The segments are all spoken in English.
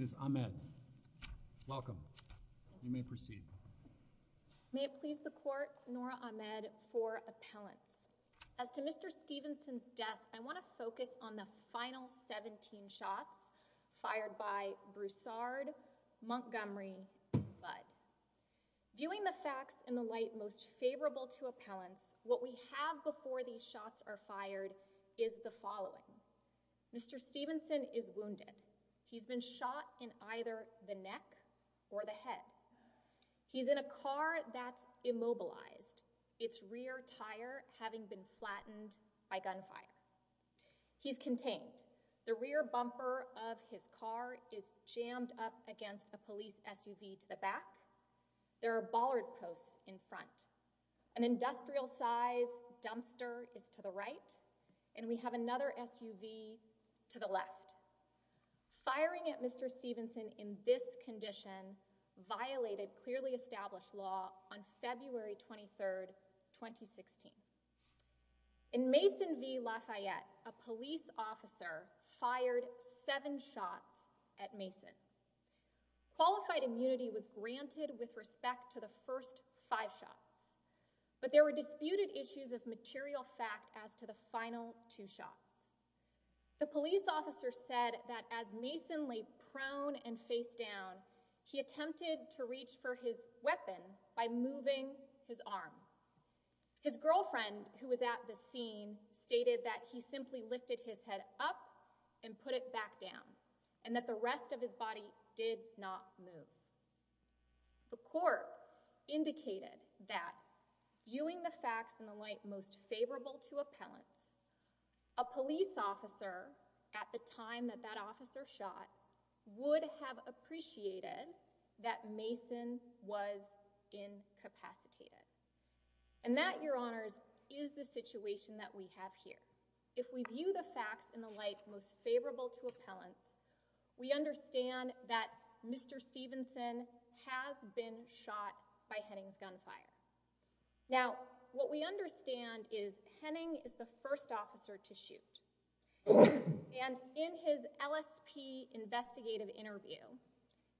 May it please the court, Nora Ahmed for appellants. As to Mr. Stevenson's death, I want to focus on the final 17 shots fired by Broussard, Montgomery, Bud. Viewing the facts in the light most favorable to appellants, what we have before these shots are fired is the following. Mr. Stevenson is wounded. He's been shot in either the neck or the head. He's in a car that's immobilized, its rear tire having been flattened by gunfire. He's contained. The rear bumper of his car is jammed up against a police SUV to the back. There are bollard posts in front. An industrial-sized dumpster is to the right, and we have another SUV to the left. Firing at Mr. Stevenson in this condition violated clearly established law on February 23, 2016. In Mason v. Lafayette, a police officer fired seven shots at Mason. Qualified immunity was granted with respect to the first five shots, but there were disputed issues of material fact as to the final two shots. The police officer said that as Mason lay prone and face down, he attempted to reach for his weapon by moving his arm. His girlfriend, who was at the scene, stated that he simply lifted his head up and put it back down, and that the rest of his body did not move. The court indicated that, viewing the facts in the light most favorable to appellants, a police officer at the time that that officer shot would have appreciated that Mason was incapacitated. And that, Your Honors, is the situation that we have here. If we view the facts in the light most favorable to appellants, we understand that Mr. Stevenson has been shot by Henning's gunfire. Now, what we understand is Henning is the first officer to shoot, and in his LSP investigative interview,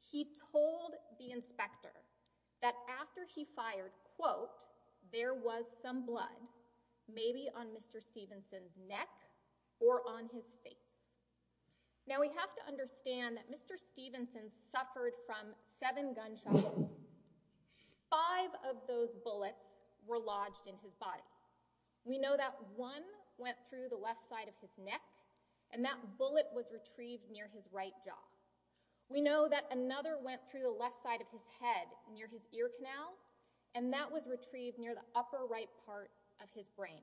he told the inspector that after he fired, quote, there was some blood, maybe on Mr. Stevenson's neck or on his face. Now, we have to understand that Mr. Stevenson suffered from seven gunshot wounds. Five of those bullets were lodged in his body. We know that one went through the left side of his neck, and that bullet was retrieved near his right jaw. We know that another went through the left side of his head, near his ear canal, and that was retrieved near the upper right part of his brain.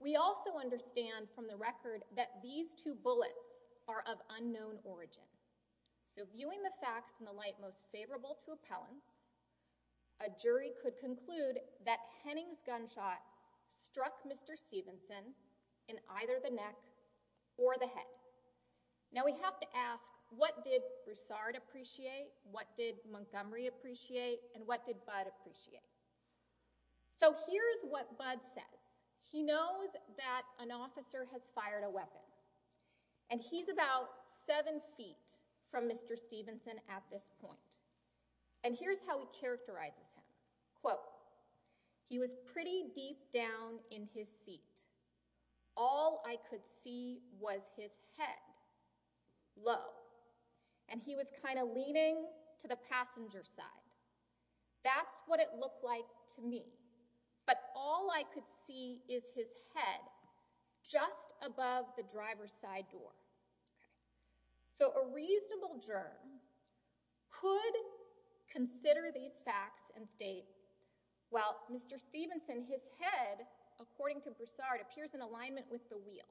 We also understand from the record that these two bullets are of unknown origin. So, viewing the facts in the light most favorable to appellants, a jury could conclude that Henning's gunshot struck Mr. Stevenson in either the neck or the head. Now, we have to ask, what did Broussard appreciate, what did Montgomery appreciate, and what did Budd appreciate? So, here's what Budd says. He knows that an officer has fired a weapon, and he's about seven feet from Mr. Stevenson at this point, and here's how he characterizes him, quote, he was pretty deep down in his seat. All I could see was his head, low, and he was kind of leaning to the passenger side. That's what it looked like to me, but all I could see is his head just above the driver's side door. So, a reasonable juror could consider these facts and state, well, Mr. Stevenson, his head, according to Broussard, appears in alignment with the wheel.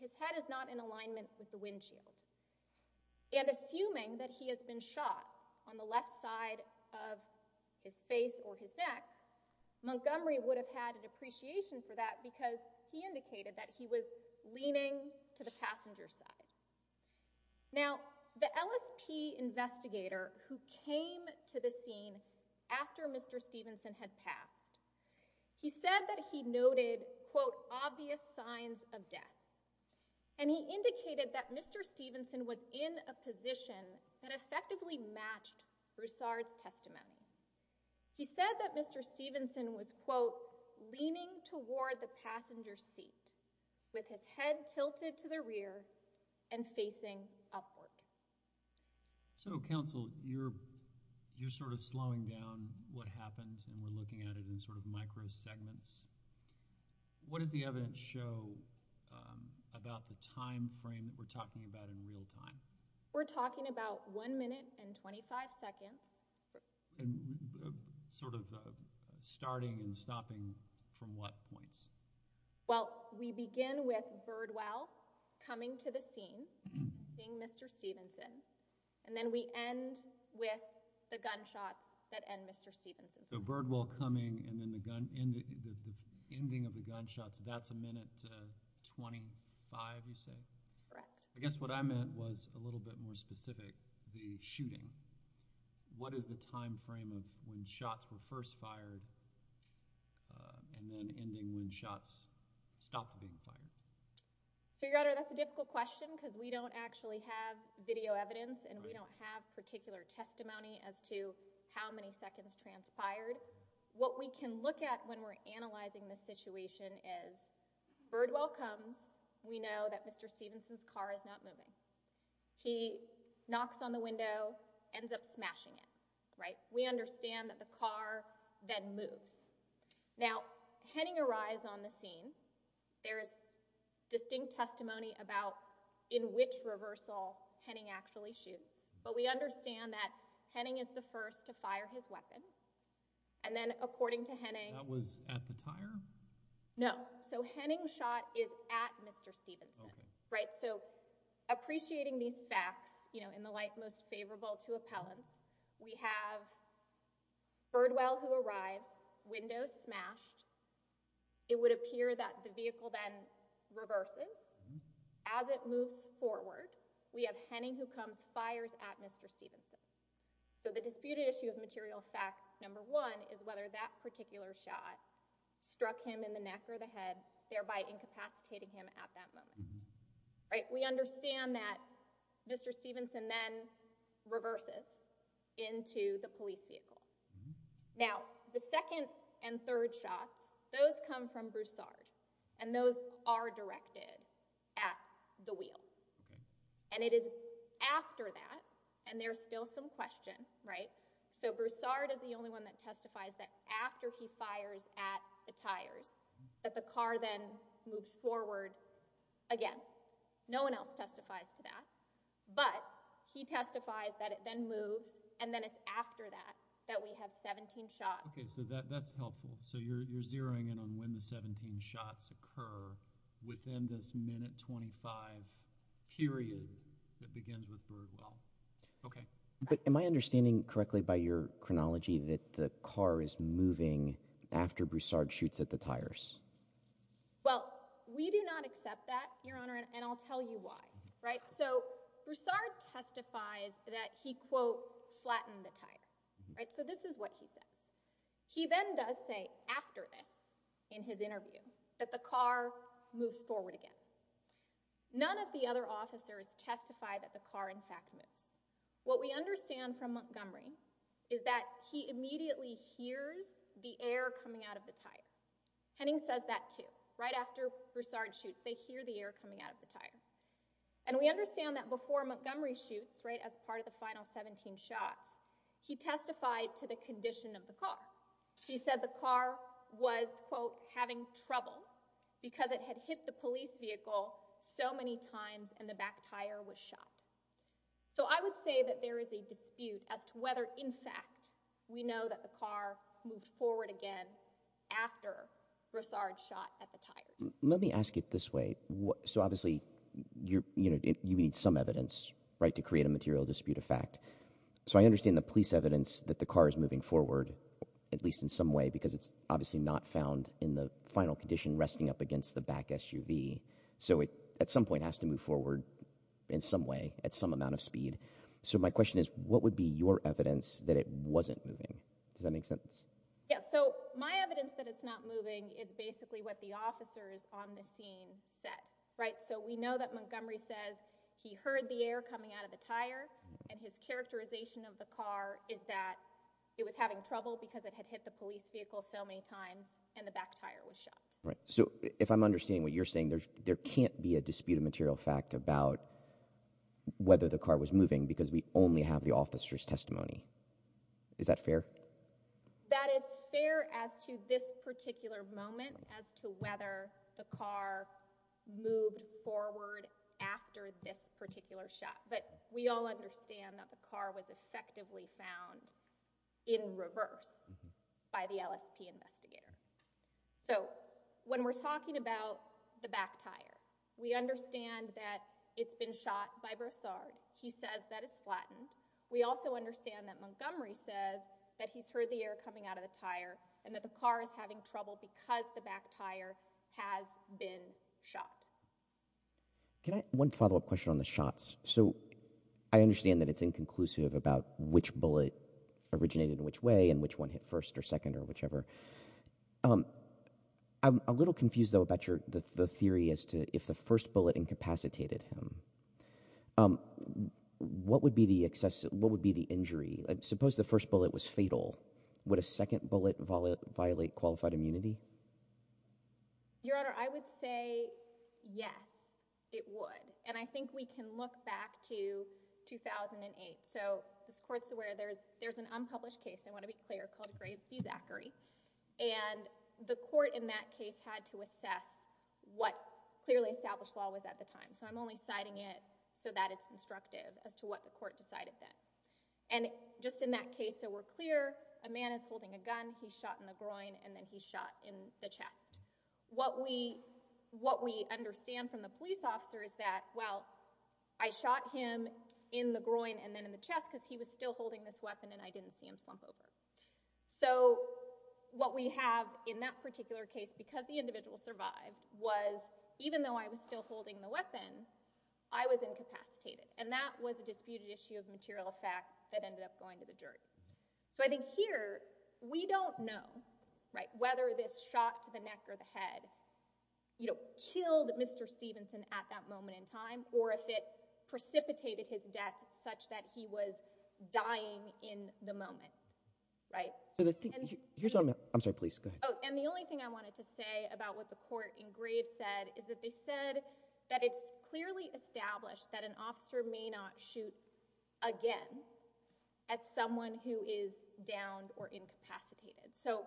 His head is not in alignment with the windshield. And assuming that he has been shot on the left side of his face or his neck, Montgomery would have had an appreciation for that because he indicated that he was leaning to the passenger side. Now, the LSP investigator who came to the scene after Mr. Stevenson had passed, he said that he noted, quote, obvious signs of death, and he indicated that Mr. Stevenson was in a position that effectively matched Broussard's testimony. He said that Mr. Stevenson was, quote, leaning toward the passenger seat with his head tilted to the rear and facing upward. So, counsel, you're sort of slowing down what happened and we're looking at it in sort of micro segments. What does the evidence show about the time frame that we're talking about in real time? We're talking about one minute and 25 seconds. And sort of starting and stopping from what points? Well, we begin with Birdwell coming to the scene, seeing Mr. Stevenson, and then we end with the gunshots that end Mr. Stevenson. So, Birdwell coming and then the ending of the gunshots, that's a minute 25, you say? Correct. I guess what I meant was a little bit more specific, the shooting. What is the time frame of when shots were first fired and then ending when shots stopped being fired? So, Your Honor, that's a difficult question because we don't actually have video evidence and we don't have particular testimony as to how many seconds transpired. What we can look at when we're analyzing the situation is Birdwell comes, we know that Mr. Stevenson's car is not moving. He knocks on the window, ends up smashing it, right? We understand that the car then moves. Now, Henning arrives on the scene. There is distinct testimony about in which reversal Henning actually shoots. But we understand that Henning is the first to fire his weapon. And then, according to Henning… That was at the tire? No. So, Henning's shot is at Mr. Stevenson. Right? So, appreciating these facts, you know, in the light most favorable to appellants, we have Birdwell who arrives, window smashed. It would appear that the vehicle then reverses. As it moves forward, we have Henning who comes, fires at Mr. Stevenson. So, the disputed issue of material fact number one is whether that particular shot struck him in the neck or the head, thereby incapacitating him at that moment. Right? We understand that Mr. Stevenson then reverses into the police vehicle. Now, the second and third shots, those come from Broussard. And those are directed at the wheel. And it is after that, and there's still some question, right? So, Broussard is the only one that testifies that after he fires at the tires, that the car then moves forward again. No one else testifies to that. But, he testifies that it then moves, and then it's after that that we have 17 shots. Okay. So, that's helpful. So, you're zeroing in on when the 17 shots occur within this minute 25 period that begins with Birdwell. Okay. But, am I understanding correctly by your chronology that the car is moving after Broussard shoots at the tires? Well, we do not accept that, Your Honor, and I'll tell you why. Right? So, Broussard testifies that he, quote, flattened the tire. Right? So, this is what he says. He then does say after this, in his interview, that the car moves forward again. None of the other officers testify that the car, in fact, moves. What we understand from Montgomery is that he immediately hears the air coming out of the tire. Henning says that, too. Right after Broussard shoots, they hear the air coming out of the tire. And, we understand that before Montgomery shoots, right, as part of the final 17 shots, he testified to the condition of the car. He said the car was, quote, having trouble because it had hit the police vehicle so many times and the back tire was shot. So, I would say that there is a dispute as to whether, in fact, we know that the car moved forward again after Broussard shot at the tires. Let me ask it this way. So, obviously, you need some evidence, right, to create a material dispute of fact. So, I understand the police evidence that the car is moving forward, at least in some way, because it's obviously not found in the final condition resting up against the back SUV. So, at some point, it has to move forward in some way at some amount of speed. So, my question is, what would be your evidence that it wasn't moving? Does that make sense? Yeah. So, my evidence that it's not moving is basically what the officers on the scene said, right? So, we know that Montgomery says he heard the air coming out of the tire, and his characterization of the car is that it was having trouble because it had hit the police vehicle so many times and the back tire was shot. Right. So, if I'm understanding what you're saying, there can't be a dispute of material fact about whether the car was moving because we only have the officer's testimony. Is that fair? That is fair as to this particular moment as to whether the car moved forward after this particular shot. But we all understand that the car was effectively found in reverse by the LSP investigator. So, when we're talking about the back tire, we understand that it's been shot by Broussard. He says that it's flattened. We also understand that Montgomery says that he's heard the air coming out of the tire and that the car is having trouble because the back tire has been shot. One follow-up question on the shots. So, I understand that it's inconclusive about which bullet originated in which way and which one hit first or second or whichever. I'm a little confused, though, about the theory as to if the first bullet incapacitated him, what would be the injury? Suppose the first bullet was fatal. Would a second bullet violate qualified immunity? Your Honor, I would say yes, it would. And I think we can look back to 2008. So, this court's aware there's an unpublished case, I want to be clear, called Graves v. Zachary. And the court in that case had to assess what clearly established law was at the time. So, I'm only citing it so that it's instructive as to what the court decided then. And just in that case, so we're clear, a man is holding a gun, he's shot in the groin, and then he's shot in the chest. What we understand from the police officer is that, well, I shot him in the groin and then in the chest because he was still holding this weapon and I didn't see him slump over. So, what we have in that particular case, because the individual survived, was even though I was still holding the weapon, I was incapacitated. And that was a disputed issue of material fact that ended up going to the jury. So, I think here, we don't know whether this shot to the neck or the head killed Mr. Stevenson at that moment in time, or if it precipitated his death such that he was dying in the moment. And the only thing I wanted to say about what the court in Graves said is that they said that it's clearly established that an officer may not shoot again at someone who is downed or incapacitated. So,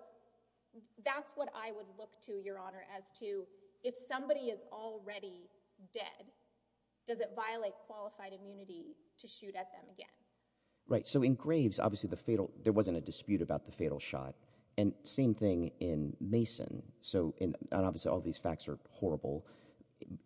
that's what I would look to, Your Honor, as to if somebody is already dead, does it violate qualified immunity to shoot at them again? Right. So, in Graves, obviously, there wasn't a dispute about the fatal shot. And same thing in Mason. So, obviously, all these facts are horrible.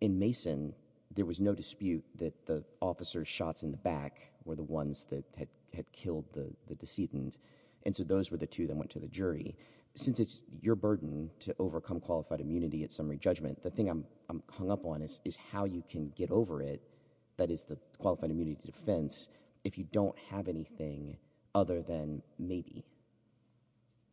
In Mason, there was no dispute that the officer's shots in the back were the ones that had killed the decedent. And so, those were the two that went to the jury. Since it's your burden to overcome qualified immunity at summary judgment, the thing I'm hung up on is how you can get over it, that is, the qualified immunity to defense, if you don't have anything other than maybe.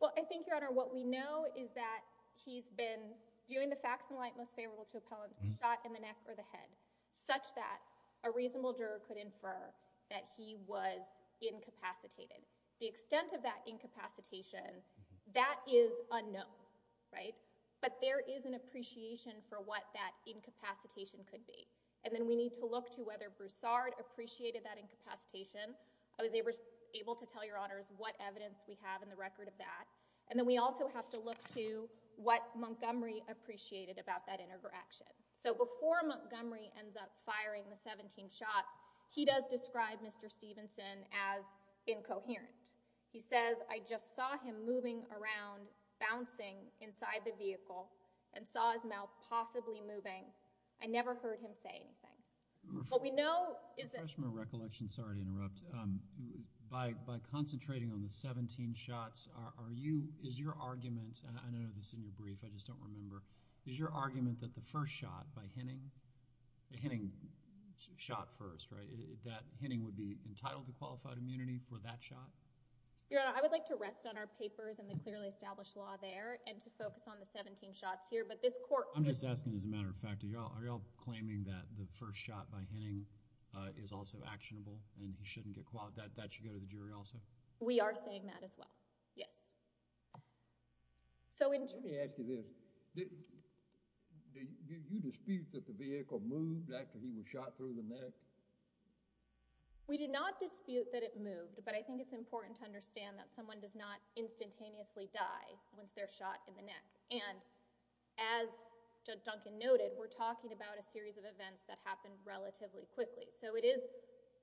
Well, I think, Your Honor, what we know is that he's been viewing the facts in light most favorable to appellants, the shot in the neck or the head, such that a reasonable juror could infer that he was incapacitated. The extent of that incapacitation, that is unknown, right? But there is an appreciation for what that incapacitation could be. And then we need to look to whether Broussard appreciated that incapacitation. I was able to tell Your Honors what evidence we have in the record of that. And then we also have to look to what Montgomery appreciated about that interaction. So, before Montgomery ends up firing the 17 shots, he does describe Mr. Stevenson as incoherent. He says, I just saw him moving around, bouncing inside the vehicle, and saw his mouth possibly moving. I never heard him say anything. But we know is that… Freshman recollection, sorry to interrupt. By concentrating on the 17 shots, are you, is your argument, I don't know if this is in your brief, I just don't remember. Is your argument that the first shot by Henning, the Henning shot first, right? That Henning would be entitled to qualified immunity for that shot? Your Honor, I would like to rest on our papers and the clearly established law there and to focus on the 17 shots here. I'm just asking as a matter of fact, are you all claiming that the first shot by Henning is also actionable and he shouldn't get qualified? That should go to the jury also? We are saying that as well, yes. Let me ask you this. Do you dispute that the vehicle moved after he was shot through the neck? We do not dispute that it moved, but I think it's important to understand that someone does not instantaneously die once they're shot in the neck. And as Judge Duncan noted, we're talking about a series of events that happened relatively quickly. So it is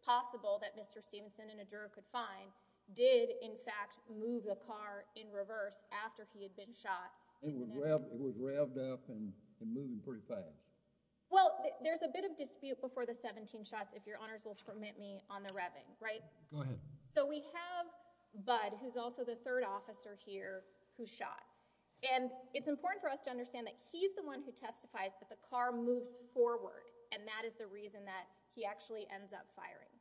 possible that Mr. Stevenson and a juror could find, did in fact move the car in reverse after he had been shot. It was revved up and moved pretty fast. Well, there's a bit of dispute before the 17 shots, if your Honors will permit me, on the revving, right? Go ahead. So we have Bud, who's also the third officer here, who shot. And it's important for us to understand that he's the one who testifies that the car moves forward and that is the reason that he actually ends up firing.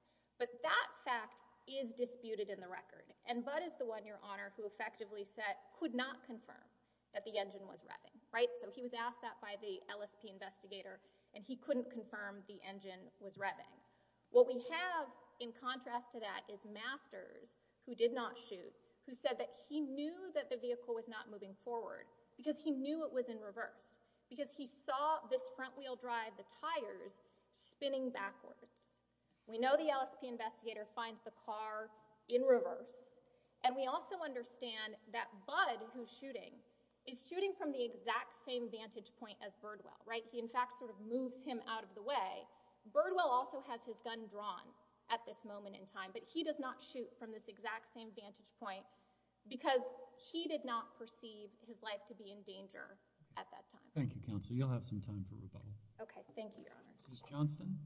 But that fact is disputed in the record. And Bud is the one, your Honor, who effectively said, could not confirm that the engine was revving, right? So he was asked that by the LSP investigator and he couldn't confirm the engine was revving. What we have in contrast to that is Masters, who did not shoot, who said that he knew that the vehicle was not moving forward because he knew it was in reverse. Because he saw this front wheel drive, the tires, spinning backwards. We know the LSP investigator finds the car in reverse. And we also understand that Bud, who's shooting, is shooting from the exact same vantage point as Birdwell, right? He in fact sort of moves him out of the way. Birdwell also has his gun drawn at this moment in time. But he does not shoot from this exact same vantage point because he did not perceive his life to be in danger at that time. Thank you, Counsel. You'll have some time for rebuttal. Okay. Thank you, your Honor. Ms. Johnston.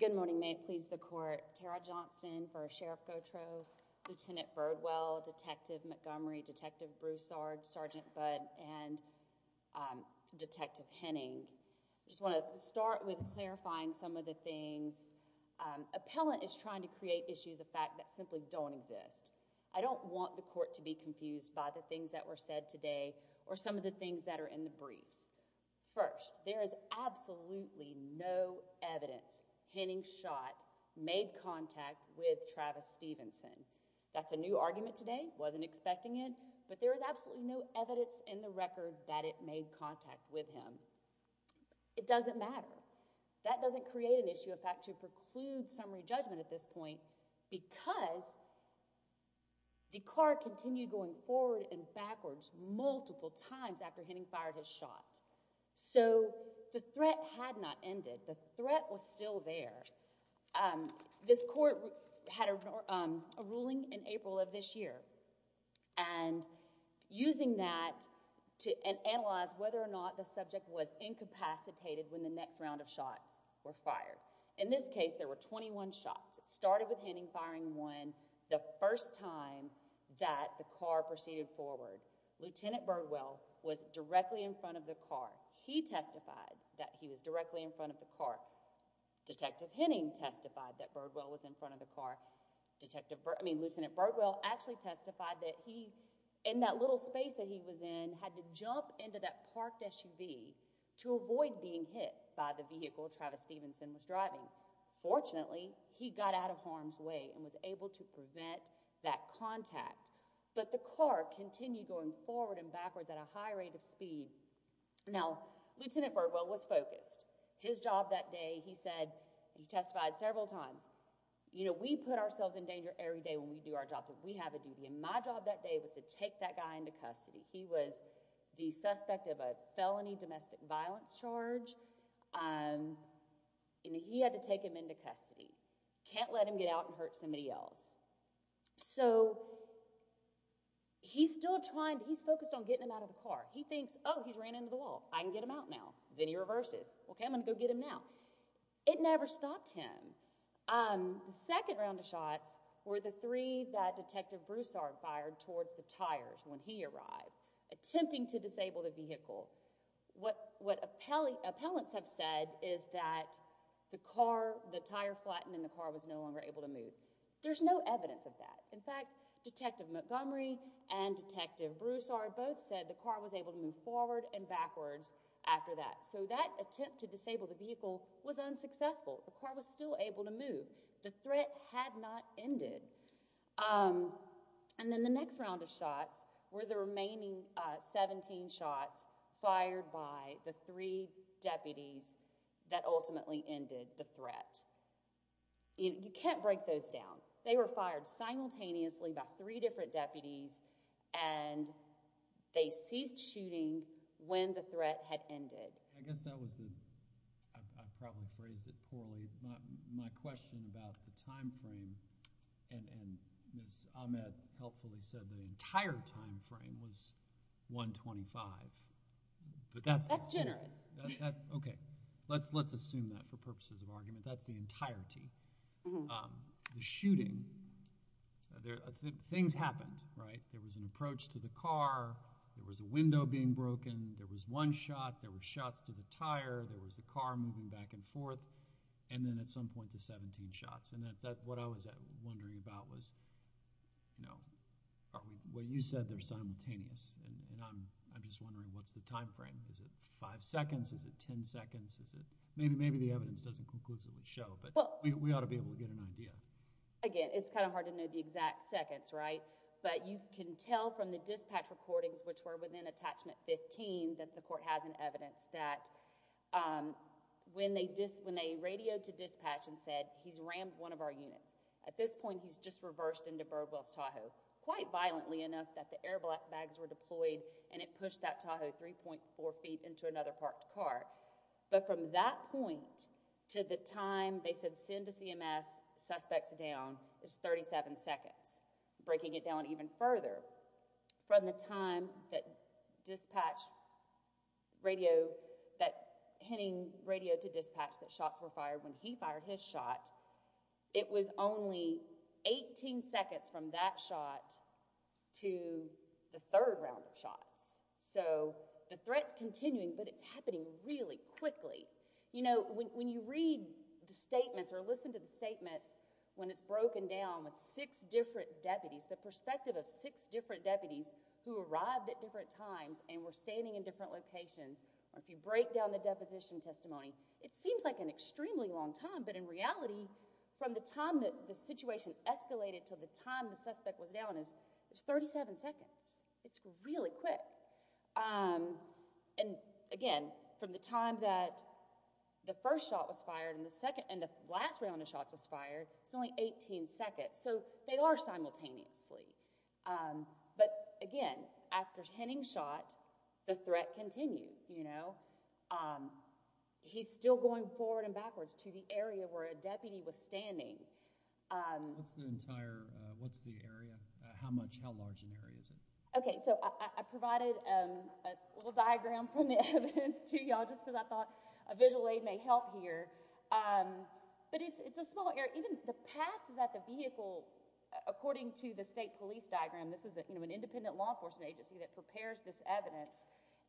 Good morning. May it please the Court. Tara Johnston, First Sheriff Gautreaux, Lieutenant Birdwell, Detective Montgomery, Detective Broussard, Sergeant Bud, and Detective Henning. I just want to start with clarifying some of the things that have been said. Appellant is trying to create issues of fact that simply don't exist. I don't want the Court to be confused by the things that were said today or some of the things that are in the briefs. First, there is absolutely no evidence Henning shot made contact with Travis Stevenson. That's a new argument today. I wasn't expecting it. But there is absolutely no evidence in the record that it made contact with him. It doesn't matter. That doesn't create an issue of fact to preclude summary judgment at this point because Dekar continued going forward and backwards multiple times after Henning fired his shot. So the threat had not ended. The threat was still there. This Court had a ruling in April of this year. And using that to analyze whether or not the subject was incapacitated when the next round of shots were fired. In this case, there were 21 shots. It started with Henning firing one the first time that Dekar proceeded forward. Lieutenant Birdwell was directly in front of the car. He testified that he was directly in front of the car. Detective Henning testified that Birdwell was in front of the car. Lieutenant Birdwell actually testified that he, in that little space that he was in, had to jump into that parked SUV to avoid being hit by the vehicle Travis Stevenson was driving. Fortunately, he got out of harm's way and was able to prevent that contact. But Dekar continued going forward and backwards at a high rate of speed. Now, Lieutenant Birdwell was focused. His job that day, he testified several times. You know, we put ourselves in danger every day when we do our jobs if we have a duty. And my job that day was to take that guy into custody. He was the suspect of a felony domestic violence charge. And he had to take him into custody. Can't let him get out and hurt somebody else. So, he's still trying, he's focused on getting him out of the car. He thinks, oh, he's ran into the wall. I can get him out now. Then he reverses. Okay, I'm going to go get him now. It never stopped him. The second round of shots were the three that Detective Broussard fired towards the tires when he arrived, attempting to disable the vehicle. What appellants have said is that the tire flattened and the car was no longer able to move. There's no evidence of that. In fact, Detective Montgomery and Detective Broussard both said the car was able to move forward and backwards after that. So, that attempt to disable the vehicle was unsuccessful. The car was still able to move. The threat had not ended. And then the next round of shots were the remaining 17 shots fired by the three deputies that ultimately ended the threat. You can't break those down. They were fired simultaneously by three different deputies, and they ceased shooting when the threat had ended. I guess I probably phrased it poorly. My question about the time frame, and Ms. Ahmed helpfully said the entire time frame was 125. That's generous. Okay, let's assume that for purposes of argument. That's the entirety. The shooting, things happened, right? There was an approach to the car. There was a window being broken. There was one shot. There were shots to the tire. There was the car moving back and forth. And then at some point, the 17 shots. And what I was wondering about was, you know, what you said, they're simultaneous. And I'm just wondering, what's the time frame? Is it 5 seconds? Is it 10 seconds? Maybe the evidence doesn't conclusively show, but we ought to be able to get an idea. Again, it's kind of hard to know the exact seconds, right? But you can tell from the dispatch recordings, which were within attachment 15, that the court has an evidence that when they radioed to dispatch and said, he's rammed one of our units. At this point, he's just reversed into Burwells Tahoe. Quite violently enough that the airbags were deployed, and it pushed that Tahoe 3.4 feet into another parked car. But from that point to the time they said, send the CMS suspects down, it's 37 seconds. Breaking it down even further, from the time that dispatch radio, that hinting radio to dispatch that shots were fired when he fired his shot, it was only 18 seconds from that shot to the third round of shots. So the threat's continuing, but it's happening really quickly. When it's broken down with six different deputies, the perspective of six different deputies who arrived at different times and were standing in different locations, if you break down the deposition testimony, it seems like an extremely long time, but in reality, from the time that the situation escalated to the time the suspect was down, it's 37 seconds. It's really quick. And again, from the time that the first shot was fired and the last round of shots was fired, it's only 18 seconds. So they are simultaneously. But again, after hinting shot, the threat continued. He's still going forward and backwards to the area where a deputy was standing. What's the entire, what's the area? How much, how large an area is it? Okay, so I provided a little diagram from the evidence to y'all just because I thought a visual aid may help here. But it's a small area. Even the path that the vehicle, according to the state police diagram, this is an independent law enforcement agency that prepares this evidence,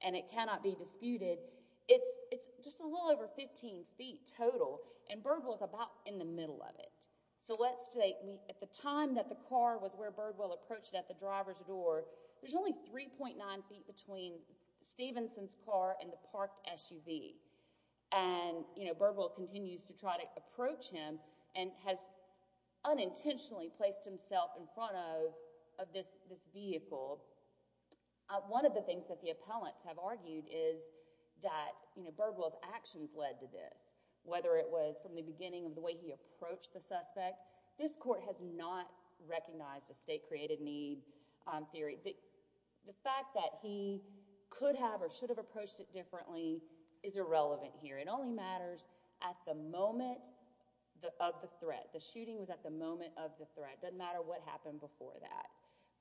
and it cannot be disputed. It's just a little over 15 feet total, and Birdwell's about in the middle of it. So let's say at the time that the car was where Birdwell approached at the driver's door, there's only 3.9 feet between Stevenson's car and the parked SUV. And Birdwell continues to try to approach him and has unintentionally placed himself in front of this vehicle. One of the things that the appellants have argued is that Birdwell's actions led to this. Whether it was from the beginning of the way he approached the suspect, this court has not recognized a state-created need theory. The fact that he could have or should have approached it differently is irrelevant here. It only matters at the moment of the threat. The shooting was at the moment of the threat. It doesn't matter what happened before that.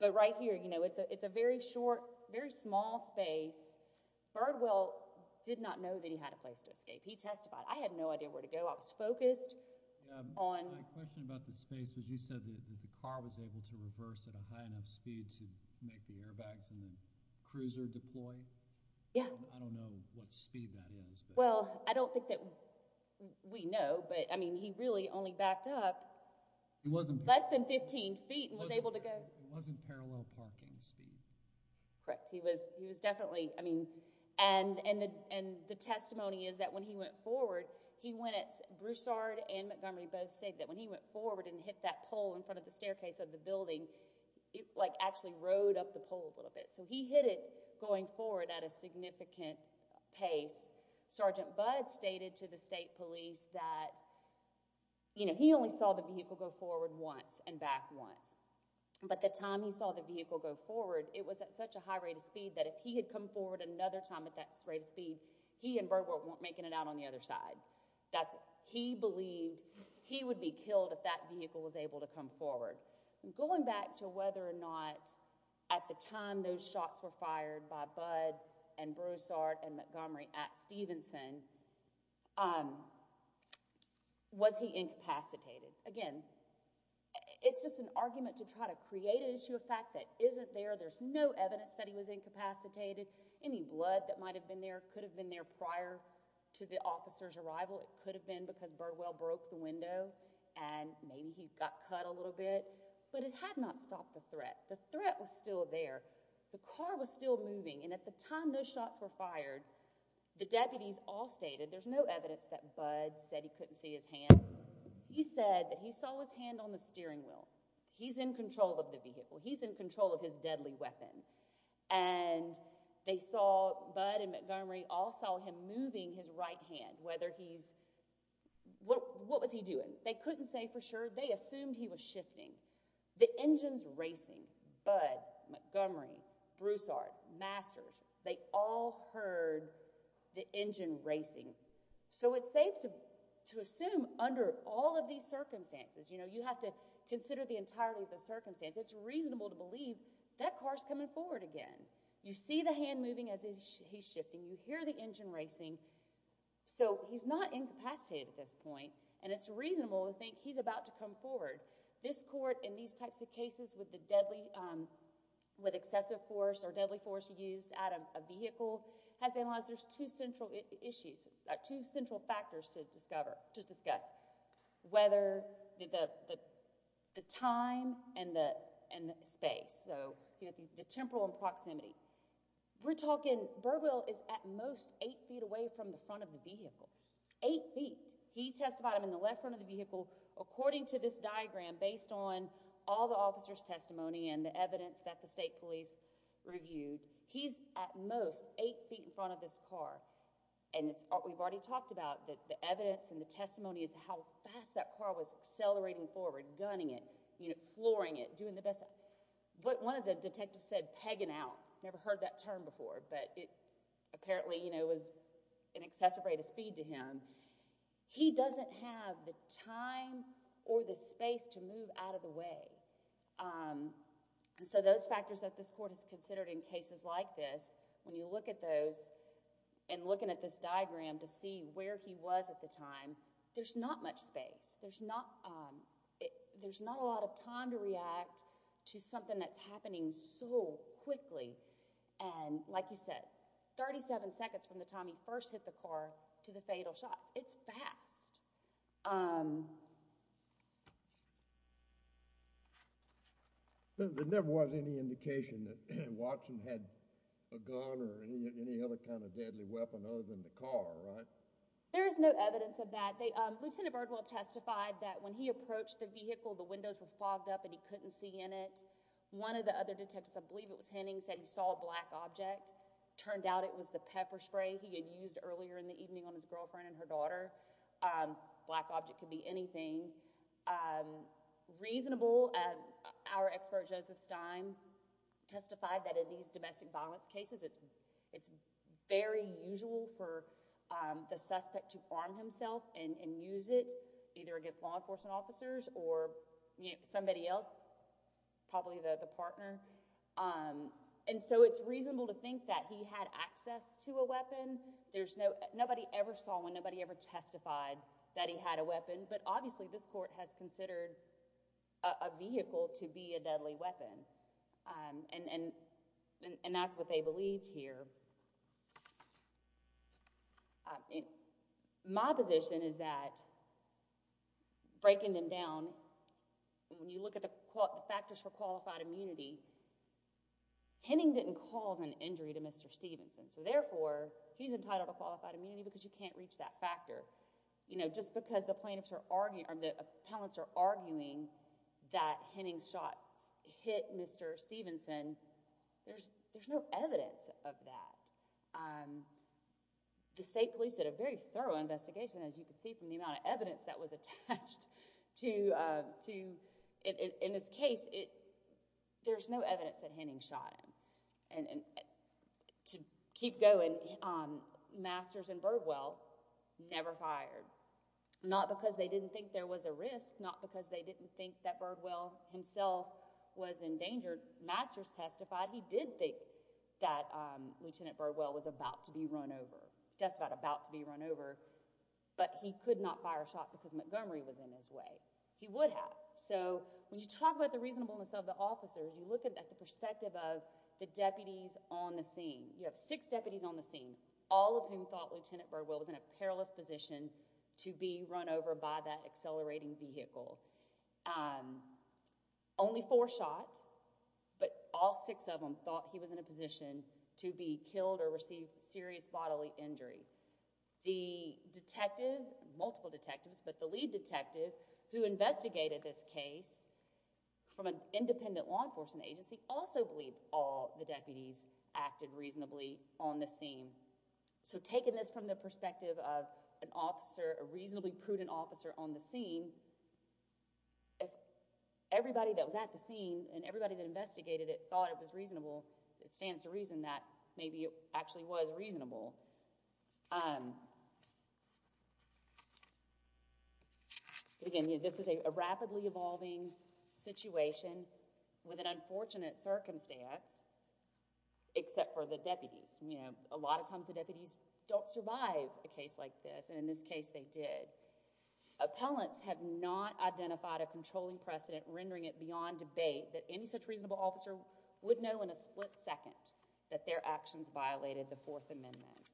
But right here, you know, it's a very short, very small space. Birdwell did not know that he had a place to escape. He testified. I had no idea where to go. I was focused on... My question about the space was you said that the car was able to reverse at a high enough speed to make the airbags and the cruiser deploy. Yeah. I don't know what speed that was. Well, I don't think that we know. But, I mean, he really only backed up less than 15 feet and was able to go. It wasn't parallel parking speed. Correct. He was definitely, I mean... And the testimony is that when he went forward, he went at... Broussard and Montgomery both state that when he went forward and hit that pole in front of the staircase of the building, it, like, actually rode up the pole a little bit. So he hit it going forward at a significant pace. Sergeant Budd stated to the state police that, you know, he only saw the vehicle go forward once and back once. But the time he saw the vehicle go forward, it was at such a high rate of speed that if he had come forward another time at that rate of speed, he and Birdwell weren't making it out on the other side. He believed he would be killed if that vehicle was able to come forward. And going back to whether or not at the time those shots were fired by Budd and Broussard and Montgomery at Stevenson, was he incapacitated? Again, it's just an argument to try to create an issue of fact that isn't there. There's no evidence that he was incapacitated. Any blood that might have been there could have been there prior to the officer's arrival. It could have been because Birdwell broke the window and maybe he got cut a little bit. But it had not stopped the threat. The threat was still there. The car was still moving. And at the time those shots were fired, the deputies all stated there's no evidence that Budd said he couldn't see his hand. He said that he saw his hand on the steering wheel. He's in control of the vehicle. He's in control of his deadly weapon. And they saw Budd and Montgomery all saw him moving his right hand, whether he's... What was he doing? They couldn't say for sure. The engines racing, Budd, Montgomery, Broussard, Masters, they all heard the engine racing. So it's safe to assume under all of these circumstances, you have to consider the entirety of the circumstance, it's reasonable to believe that car's coming forward again. You see the hand moving as he's shifting. You hear the engine racing. So he's not incapacitated at this point. And it's reasonable to think he's about to come forward. This court, in these types of cases with excessive force or deadly force used at a vehicle, has analyzed there's two central issues, two central factors to discuss, whether the time and the space, so the temporal and proximity. We're talking Burwell is at most eight feet away from the front of the vehicle. Eight feet. He testified in the left front of the vehicle. According to this diagram, based on all the officer's testimony and the evidence that the state police reviewed, he's at most eight feet in front of this car. And we've already talked about that the evidence and the testimony is how fast that car was accelerating forward, gunning it, flooring it, doing the best. But one of the detectives said, pegging out, never heard that term before. But it apparently, you know, was an excessive rate of speed to him. He doesn't have the time or the space to move out of the way. And so those factors that this court has considered in cases like this, when you look at those and looking at this diagram to see where he was at the time, there's not much space. There's not a lot of time to react to something that's happening so quickly. And like you said, 37 seconds from the time he first hit the car to the fatal shot. It's fast. There never was any indication that Watson had a gun or any other kind of deadly weapon other than the car, right? There is no evidence of that. Lieutenant Birdwell testified that when he approached the vehicle, the windows were fogged up and he couldn't see in it. One of the other detectives, I believe it was Henning, was depending on his girlfriend and her daughter. Black object could be anything. Reasonable, our expert Joseph Stein testified that in these domestic violence cases, it's very usual for the suspect to arm himself and use it either against law enforcement officers or somebody else, probably the partner. And so it's reasonable to think that he had access to a weapon. I don't know if anyone ever saw when nobody ever testified that he had a weapon, but obviously this court has considered a vehicle to be a deadly weapon. And that's what they believed here. My position is that breaking them down, when you look at the factors for qualified immunity, Henning didn't cause an injury to Mr. Stevenson. So therefore, he's entitled to qualified immunity because you can't reach that factor. Just because the plaintiffs are arguing, or the appellants are arguing that Henning's shot hit Mr. Stevenson, there's no evidence of that. The state police did a very thorough investigation, as you can see from the amount of evidence that was attached to, in this case, there's no evidence that Henning shot him. And to keep going, Masters and Birdwell never fired. Not because they didn't think there was a risk, not because they didn't think that Birdwell himself was in danger. Masters testified he did think that Lieutenant Birdwell was about to be run over, testified about to be run over, but he could not fire a shot because Montgomery was in his way. He would have. So when you talk about the perspective of the deputies on the scene, you have six deputies on the scene, all of whom thought Lieutenant Birdwell was in a perilous position to be run over by that accelerating vehicle. Only four shot, but all six of them thought he was in a position to be killed or receive serious bodily injury. The detective, multiple detectives, but the lead detective who investigated this case from an independent law enforcement agency also believed all the deputies acted reasonably on the scene. So taking this from the perspective of an officer, a reasonably prudent officer on the scene, everybody that was at the scene and everybody that investigated it thought it was reasonable. It stands to reason that maybe it actually was reasonable. Again, this is a rapidly evolving situation with an unfortunate circumstance, except for the deputies. A lot of times the deputies don't survive a case like this, and in this case they did. Appellants have not identified a controlling precedent rendering it beyond debate that any such reasonable officer would know in a split second that their actions violated the Fourth Amendment. Thank you.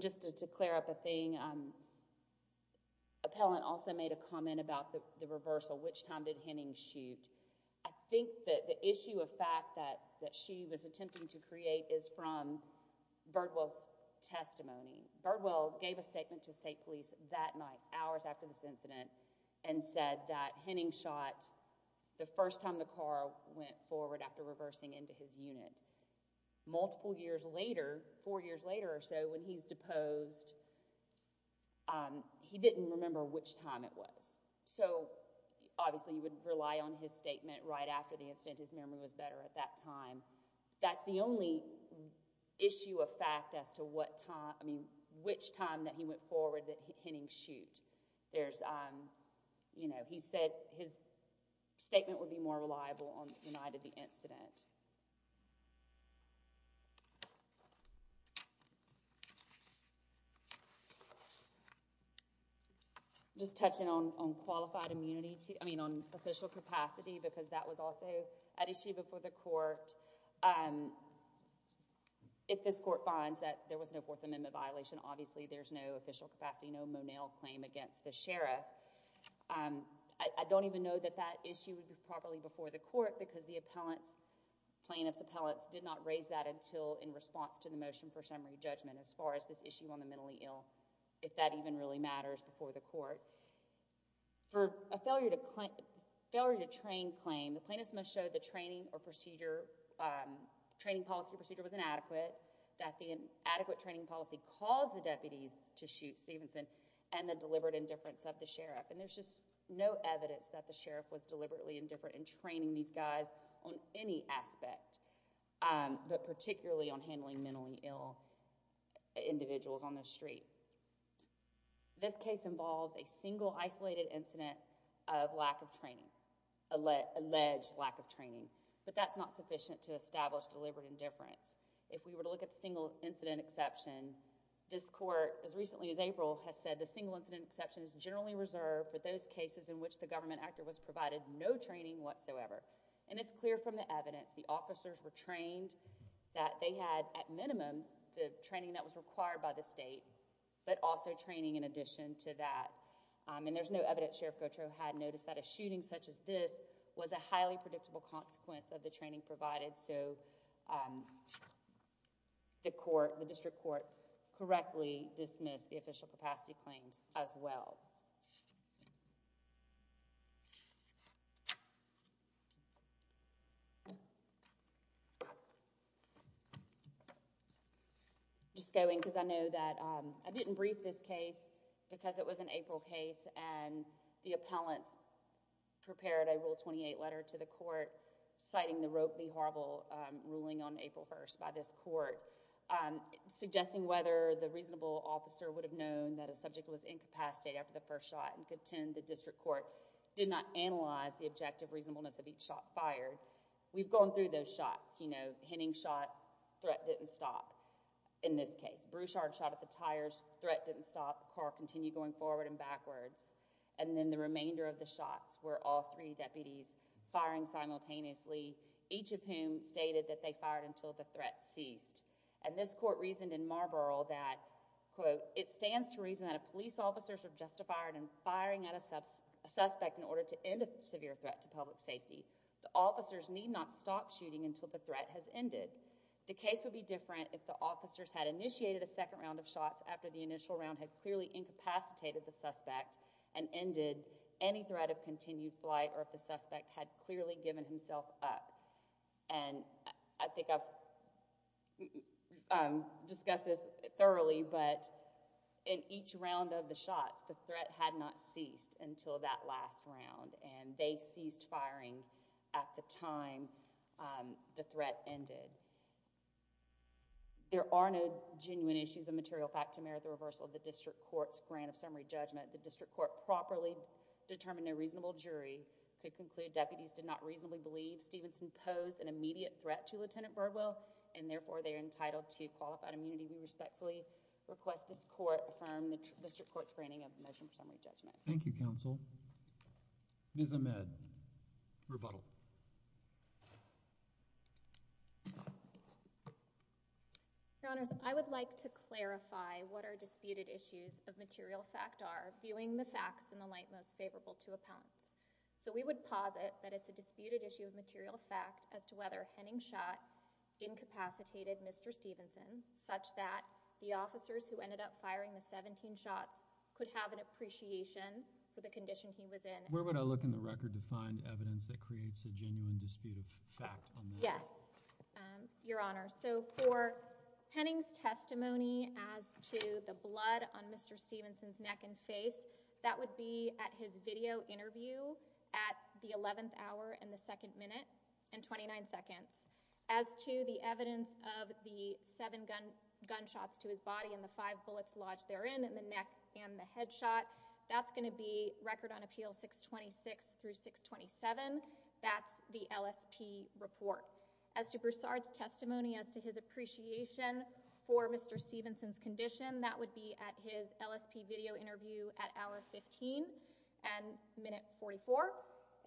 Just to clear up a thing, Appellant also made a comment about the reversal. Which time did Henning shoot? I think that the issue of fact that she was attempting to create is from Birdwell's testimony. Birdwell gave a statement to state police that night, hours after this incident, and said that Henning shot the first time the car went forward after reversing into his unit. Multiple years later, four years later or so, when he's deposed, he didn't remember which time it was. Obviously, you would rely on his statement right after the incident. That's the only issue of fact as to which time that he went forward that Henning shoot. He said his statement would be more reliable on the night of the incident. Just touching on qualified immunity, I mean on official capacity because that was also an issue before the court. If this court finds that there was no Fourth Amendment violation, then obviously there's no official capacity, no Monell claim against the sheriff. I don't even know that that issue would be properly before the court because the plaintiff's appellate did not raise that until in response to the motion for summary judgment as far as this issue on the mentally ill, if that even really matters before the court. For a failure to train claim, the plaintiff's must show the training or procedure, training policy or procedure was inadequate, that the adequate training policy would allow the deputies to shoot Stevenson and the deliberate indifference of the sheriff. There's just no evidence that the sheriff was deliberately indifferent in training these guys on any aspect, but particularly on handling mentally ill individuals on the street. This case involves a single isolated incident of lack of training, alleged lack of training, but that's not sufficient to establish deliberate indifference. If we were to look at the court as recently as April has said the single incident exception is generally reserved for those cases in which the government actor was provided no training whatsoever. It's clear from the evidence the officers were trained that they had at minimum the training that was required by the state, but also training in addition to that. There's no evidence Sheriff Gautreaux had noticed that a shooting such as this was a highly predictable consequence of the training provided, so the court, the district court correctly dismissed the official capacity claims as well. Just going because I know that I didn't brief this case because it was an April case and the appellants prepared a Rule 28 letter to the court citing the Rope v. Horrible ruling on April 1st by this court suggesting whether the reasonable officer would have known that a subject was incapacitated after the first shot and contend the district court did not analyze the objective reasonableness of each shot fired. We've gone through those shots, you know, Henning shot, threat didn't stop in this case. Bruchard shot at the tires, threat didn't stop, car continued going forward and backwards, and then the remainder of the shots were all three deputies firing simultaneously, each of whom stated that they fired until the threat ceased and this court reasoned in Marlborough that, quote, it stands to reason that if police officers are justified in firing at a suspect in order to end a severe threat to public safety, the officers need not stop shooting until the threat has ended. The case would be different if the officers had initiated a second round of shots after the initial round had clearly incapacitated the suspect and ended any threat of continued flight or if the suspect had clearly given himself up. And I think I've discussed this thoroughly, but in each round of the shots, the threat had not ceased until that last round and they ceased firing at the time the threat ended. There are no genuine issues of material fact to merit the reversal of the district court's grant of summary judgment. The district court properly determined no reasonable jury could conclude deputies did not reasonably believe Stevenson posed an immediate threat to Lieutenant Birdwell and therefore they are entitled to qualified immunity and respectfully request this court affirm the district court's granting of the motion for summary judgment. Thank you, counsel. Ms. Ahmed, rebuttal. Your Honor, I would like to clarify what our disputed issues of material fact are viewing the facts in the light most favorable to appellants. So we would posit that it's a disputed issue of material fact as to whether Henning shot incapacitated Mr. Stevenson such that the officers who ended up firing the 17 shots could have an appreciation for the condition he was in. Where would I look in the record for a genuine dispute of fact on that? Yes, Your Honor. So for Henning's testimony as to the blood on Mr. Stevenson's neck and face, that would be at his video interview at the 11th hour and the second minute and 29 seconds. As to the evidence of the seven gunshots to his body and the five bullets lodged therein in the neck and the headshot, that's going to be Record on Appeal 626 through 627. That's the L.S.P. report. As to Broussard's testimony as to his appreciation for Mr. Stevenson's condition, that would be at his L.S.P. video interview at hour 15 and minute 44.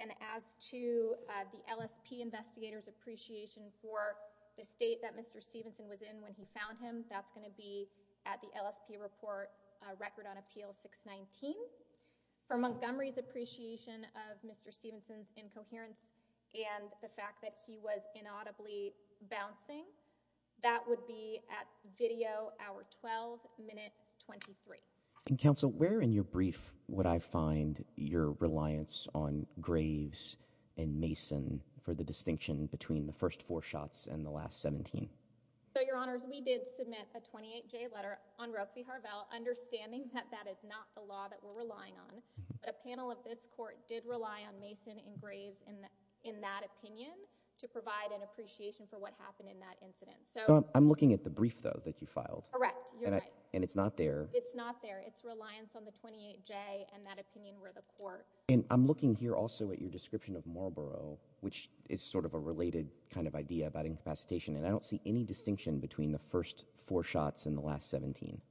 And as to the L.S.P. investigator's appreciation for the state that Mr. Stevenson was in when he found him, that's going to be at the L.S.P. report Record on Appeal 619. For Montgomery's appreciation of Mr. Stevenson's condition and the fact that he was inaudibly bouncing, that would be at video hour 12, minute 23. And, Counsel, where in your brief would I find your reliance on Graves and Mason for the distinction between the first four shots and the last 17? So, Your Honors, we did submit a 28-J letter on Roe v. Harvell, understanding that that is not the law that we're relying on. But a panel of this court did rely on Mason and Graves in that opinion to provide an appreciation for what happened in that incident. So I'm looking at the brief, though, that you filed. Correct. And it's not there. It's not there. It's reliance on the 28-J and that opinion where the court. And I'm looking here also at your description of Marlborough, which is sort of a related kind of idea about incapacitation. And I don't see any distinction between the first four shots and the last 17.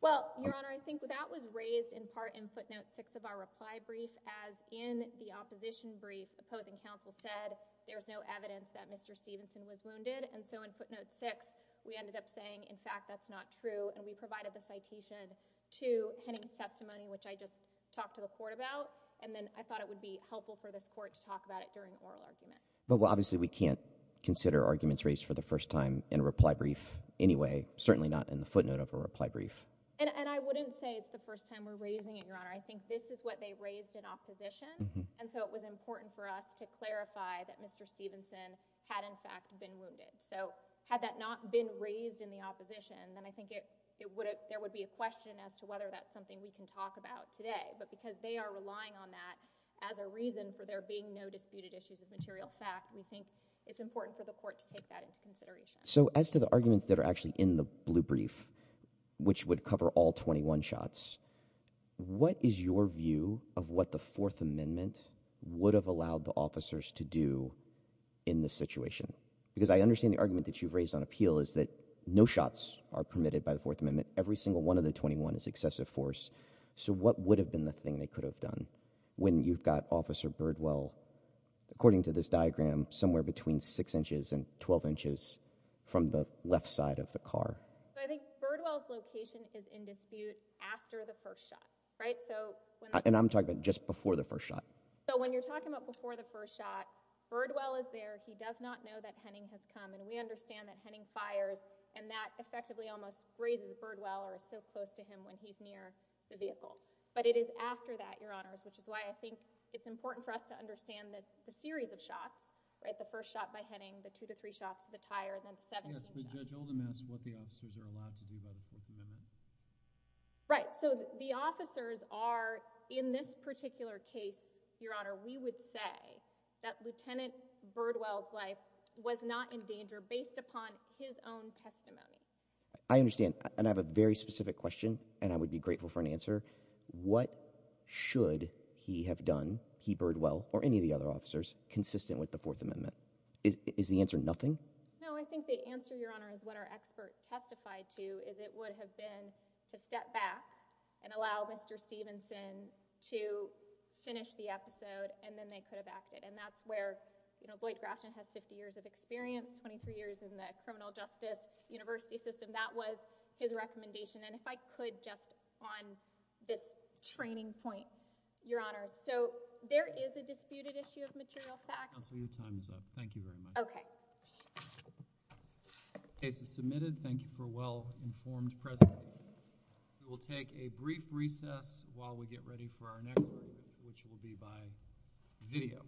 Well, Your Honor, I think that was raised in part in footnote 6 of our reply brief as in the opposition brief opposing counsel said there's no evidence that Mr. Stevenson was wounded. And so in footnote 6, we ended up saying, in fact, that's not true. And we provided the citation to Henning's testimony, which I just talked to the court about. And then I thought it would be helpful for this court to talk about it during an oral argument. Well, obviously, we can't consider arguments raised for the first time in a reply brief anyway, certainly not in the footnote of a reply brief. And I wouldn't say it's the first time we're raising it, Your Honor. I think this is what they raised in opposition. And so it was important for us to clarify that Mr. Stevenson had, in fact, been wounded. So had that not been raised in the opposition, then I think there would be a question as to whether that's something we can talk about today. But because they are relying on that as a reason for there being no disputed issues of material fact, we think it's important for the court to take that into consideration. So as to the arguments that are actually in the blue brief, which would cover all 21 shots, what is your view of what the Fourth Amendment would have allowed the officers to do in this situation? Because I understand the argument that you've raised on appeal is that no shots are permitted by the Fourth Amendment. Every single one of the 21 is excessive force. So what would have been the thing they could have done when you've got Officer Birdwell, according to this diagram, somewhere between 6 inches and 12 inches from the left side of the car? I think Birdwell's location is in dispute after the first shot. Right? And I'm talking about just before the first shot. So when you're talking about before the first shot, Birdwell is there. He does not know that Henning has come. And we understand that Henning fires and that effectively almost raises Birdwell or is so close to him when he's near the vehicle. But it is after that, Your Honors, which is why I think it's important for us to understand the series of shots. Right? The first shot by Henning, the two to three shots to the tire, and then the 17th shot. Yes, but Judge Oldham asked what the officers are allowed to do outside of the Fourth Amendment. Right. So the officers are, in this particular case, Your Honor, we would say that Lieutenant Birdwell's life was not in danger based upon his own testimony. I understand. And I have a very specific question and I would be grateful for an answer. What should he have done, he, Birdwell, or any of the other officers consistent with the Fourth Amendment? Is the answer nothing? No, I think the answer, Your Honor, is what our expert testified to is it would have been to step back and allow Mr. Stevenson to finish the episode and then they could have acted. And that's where, you know, Lloyd Grafton has 50 years of experience, 23 years in the criminal justice university system. That was his recommendation. And if I could just on this training point, Your Honor, so there is a disputed issue Thank you very much. Okay. Case is submitted. Thank you for well informed testimony. Thank you. Thank you. Thank you. Thank you. Thank you. Thank you.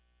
Thank you. Thank you. Thank you.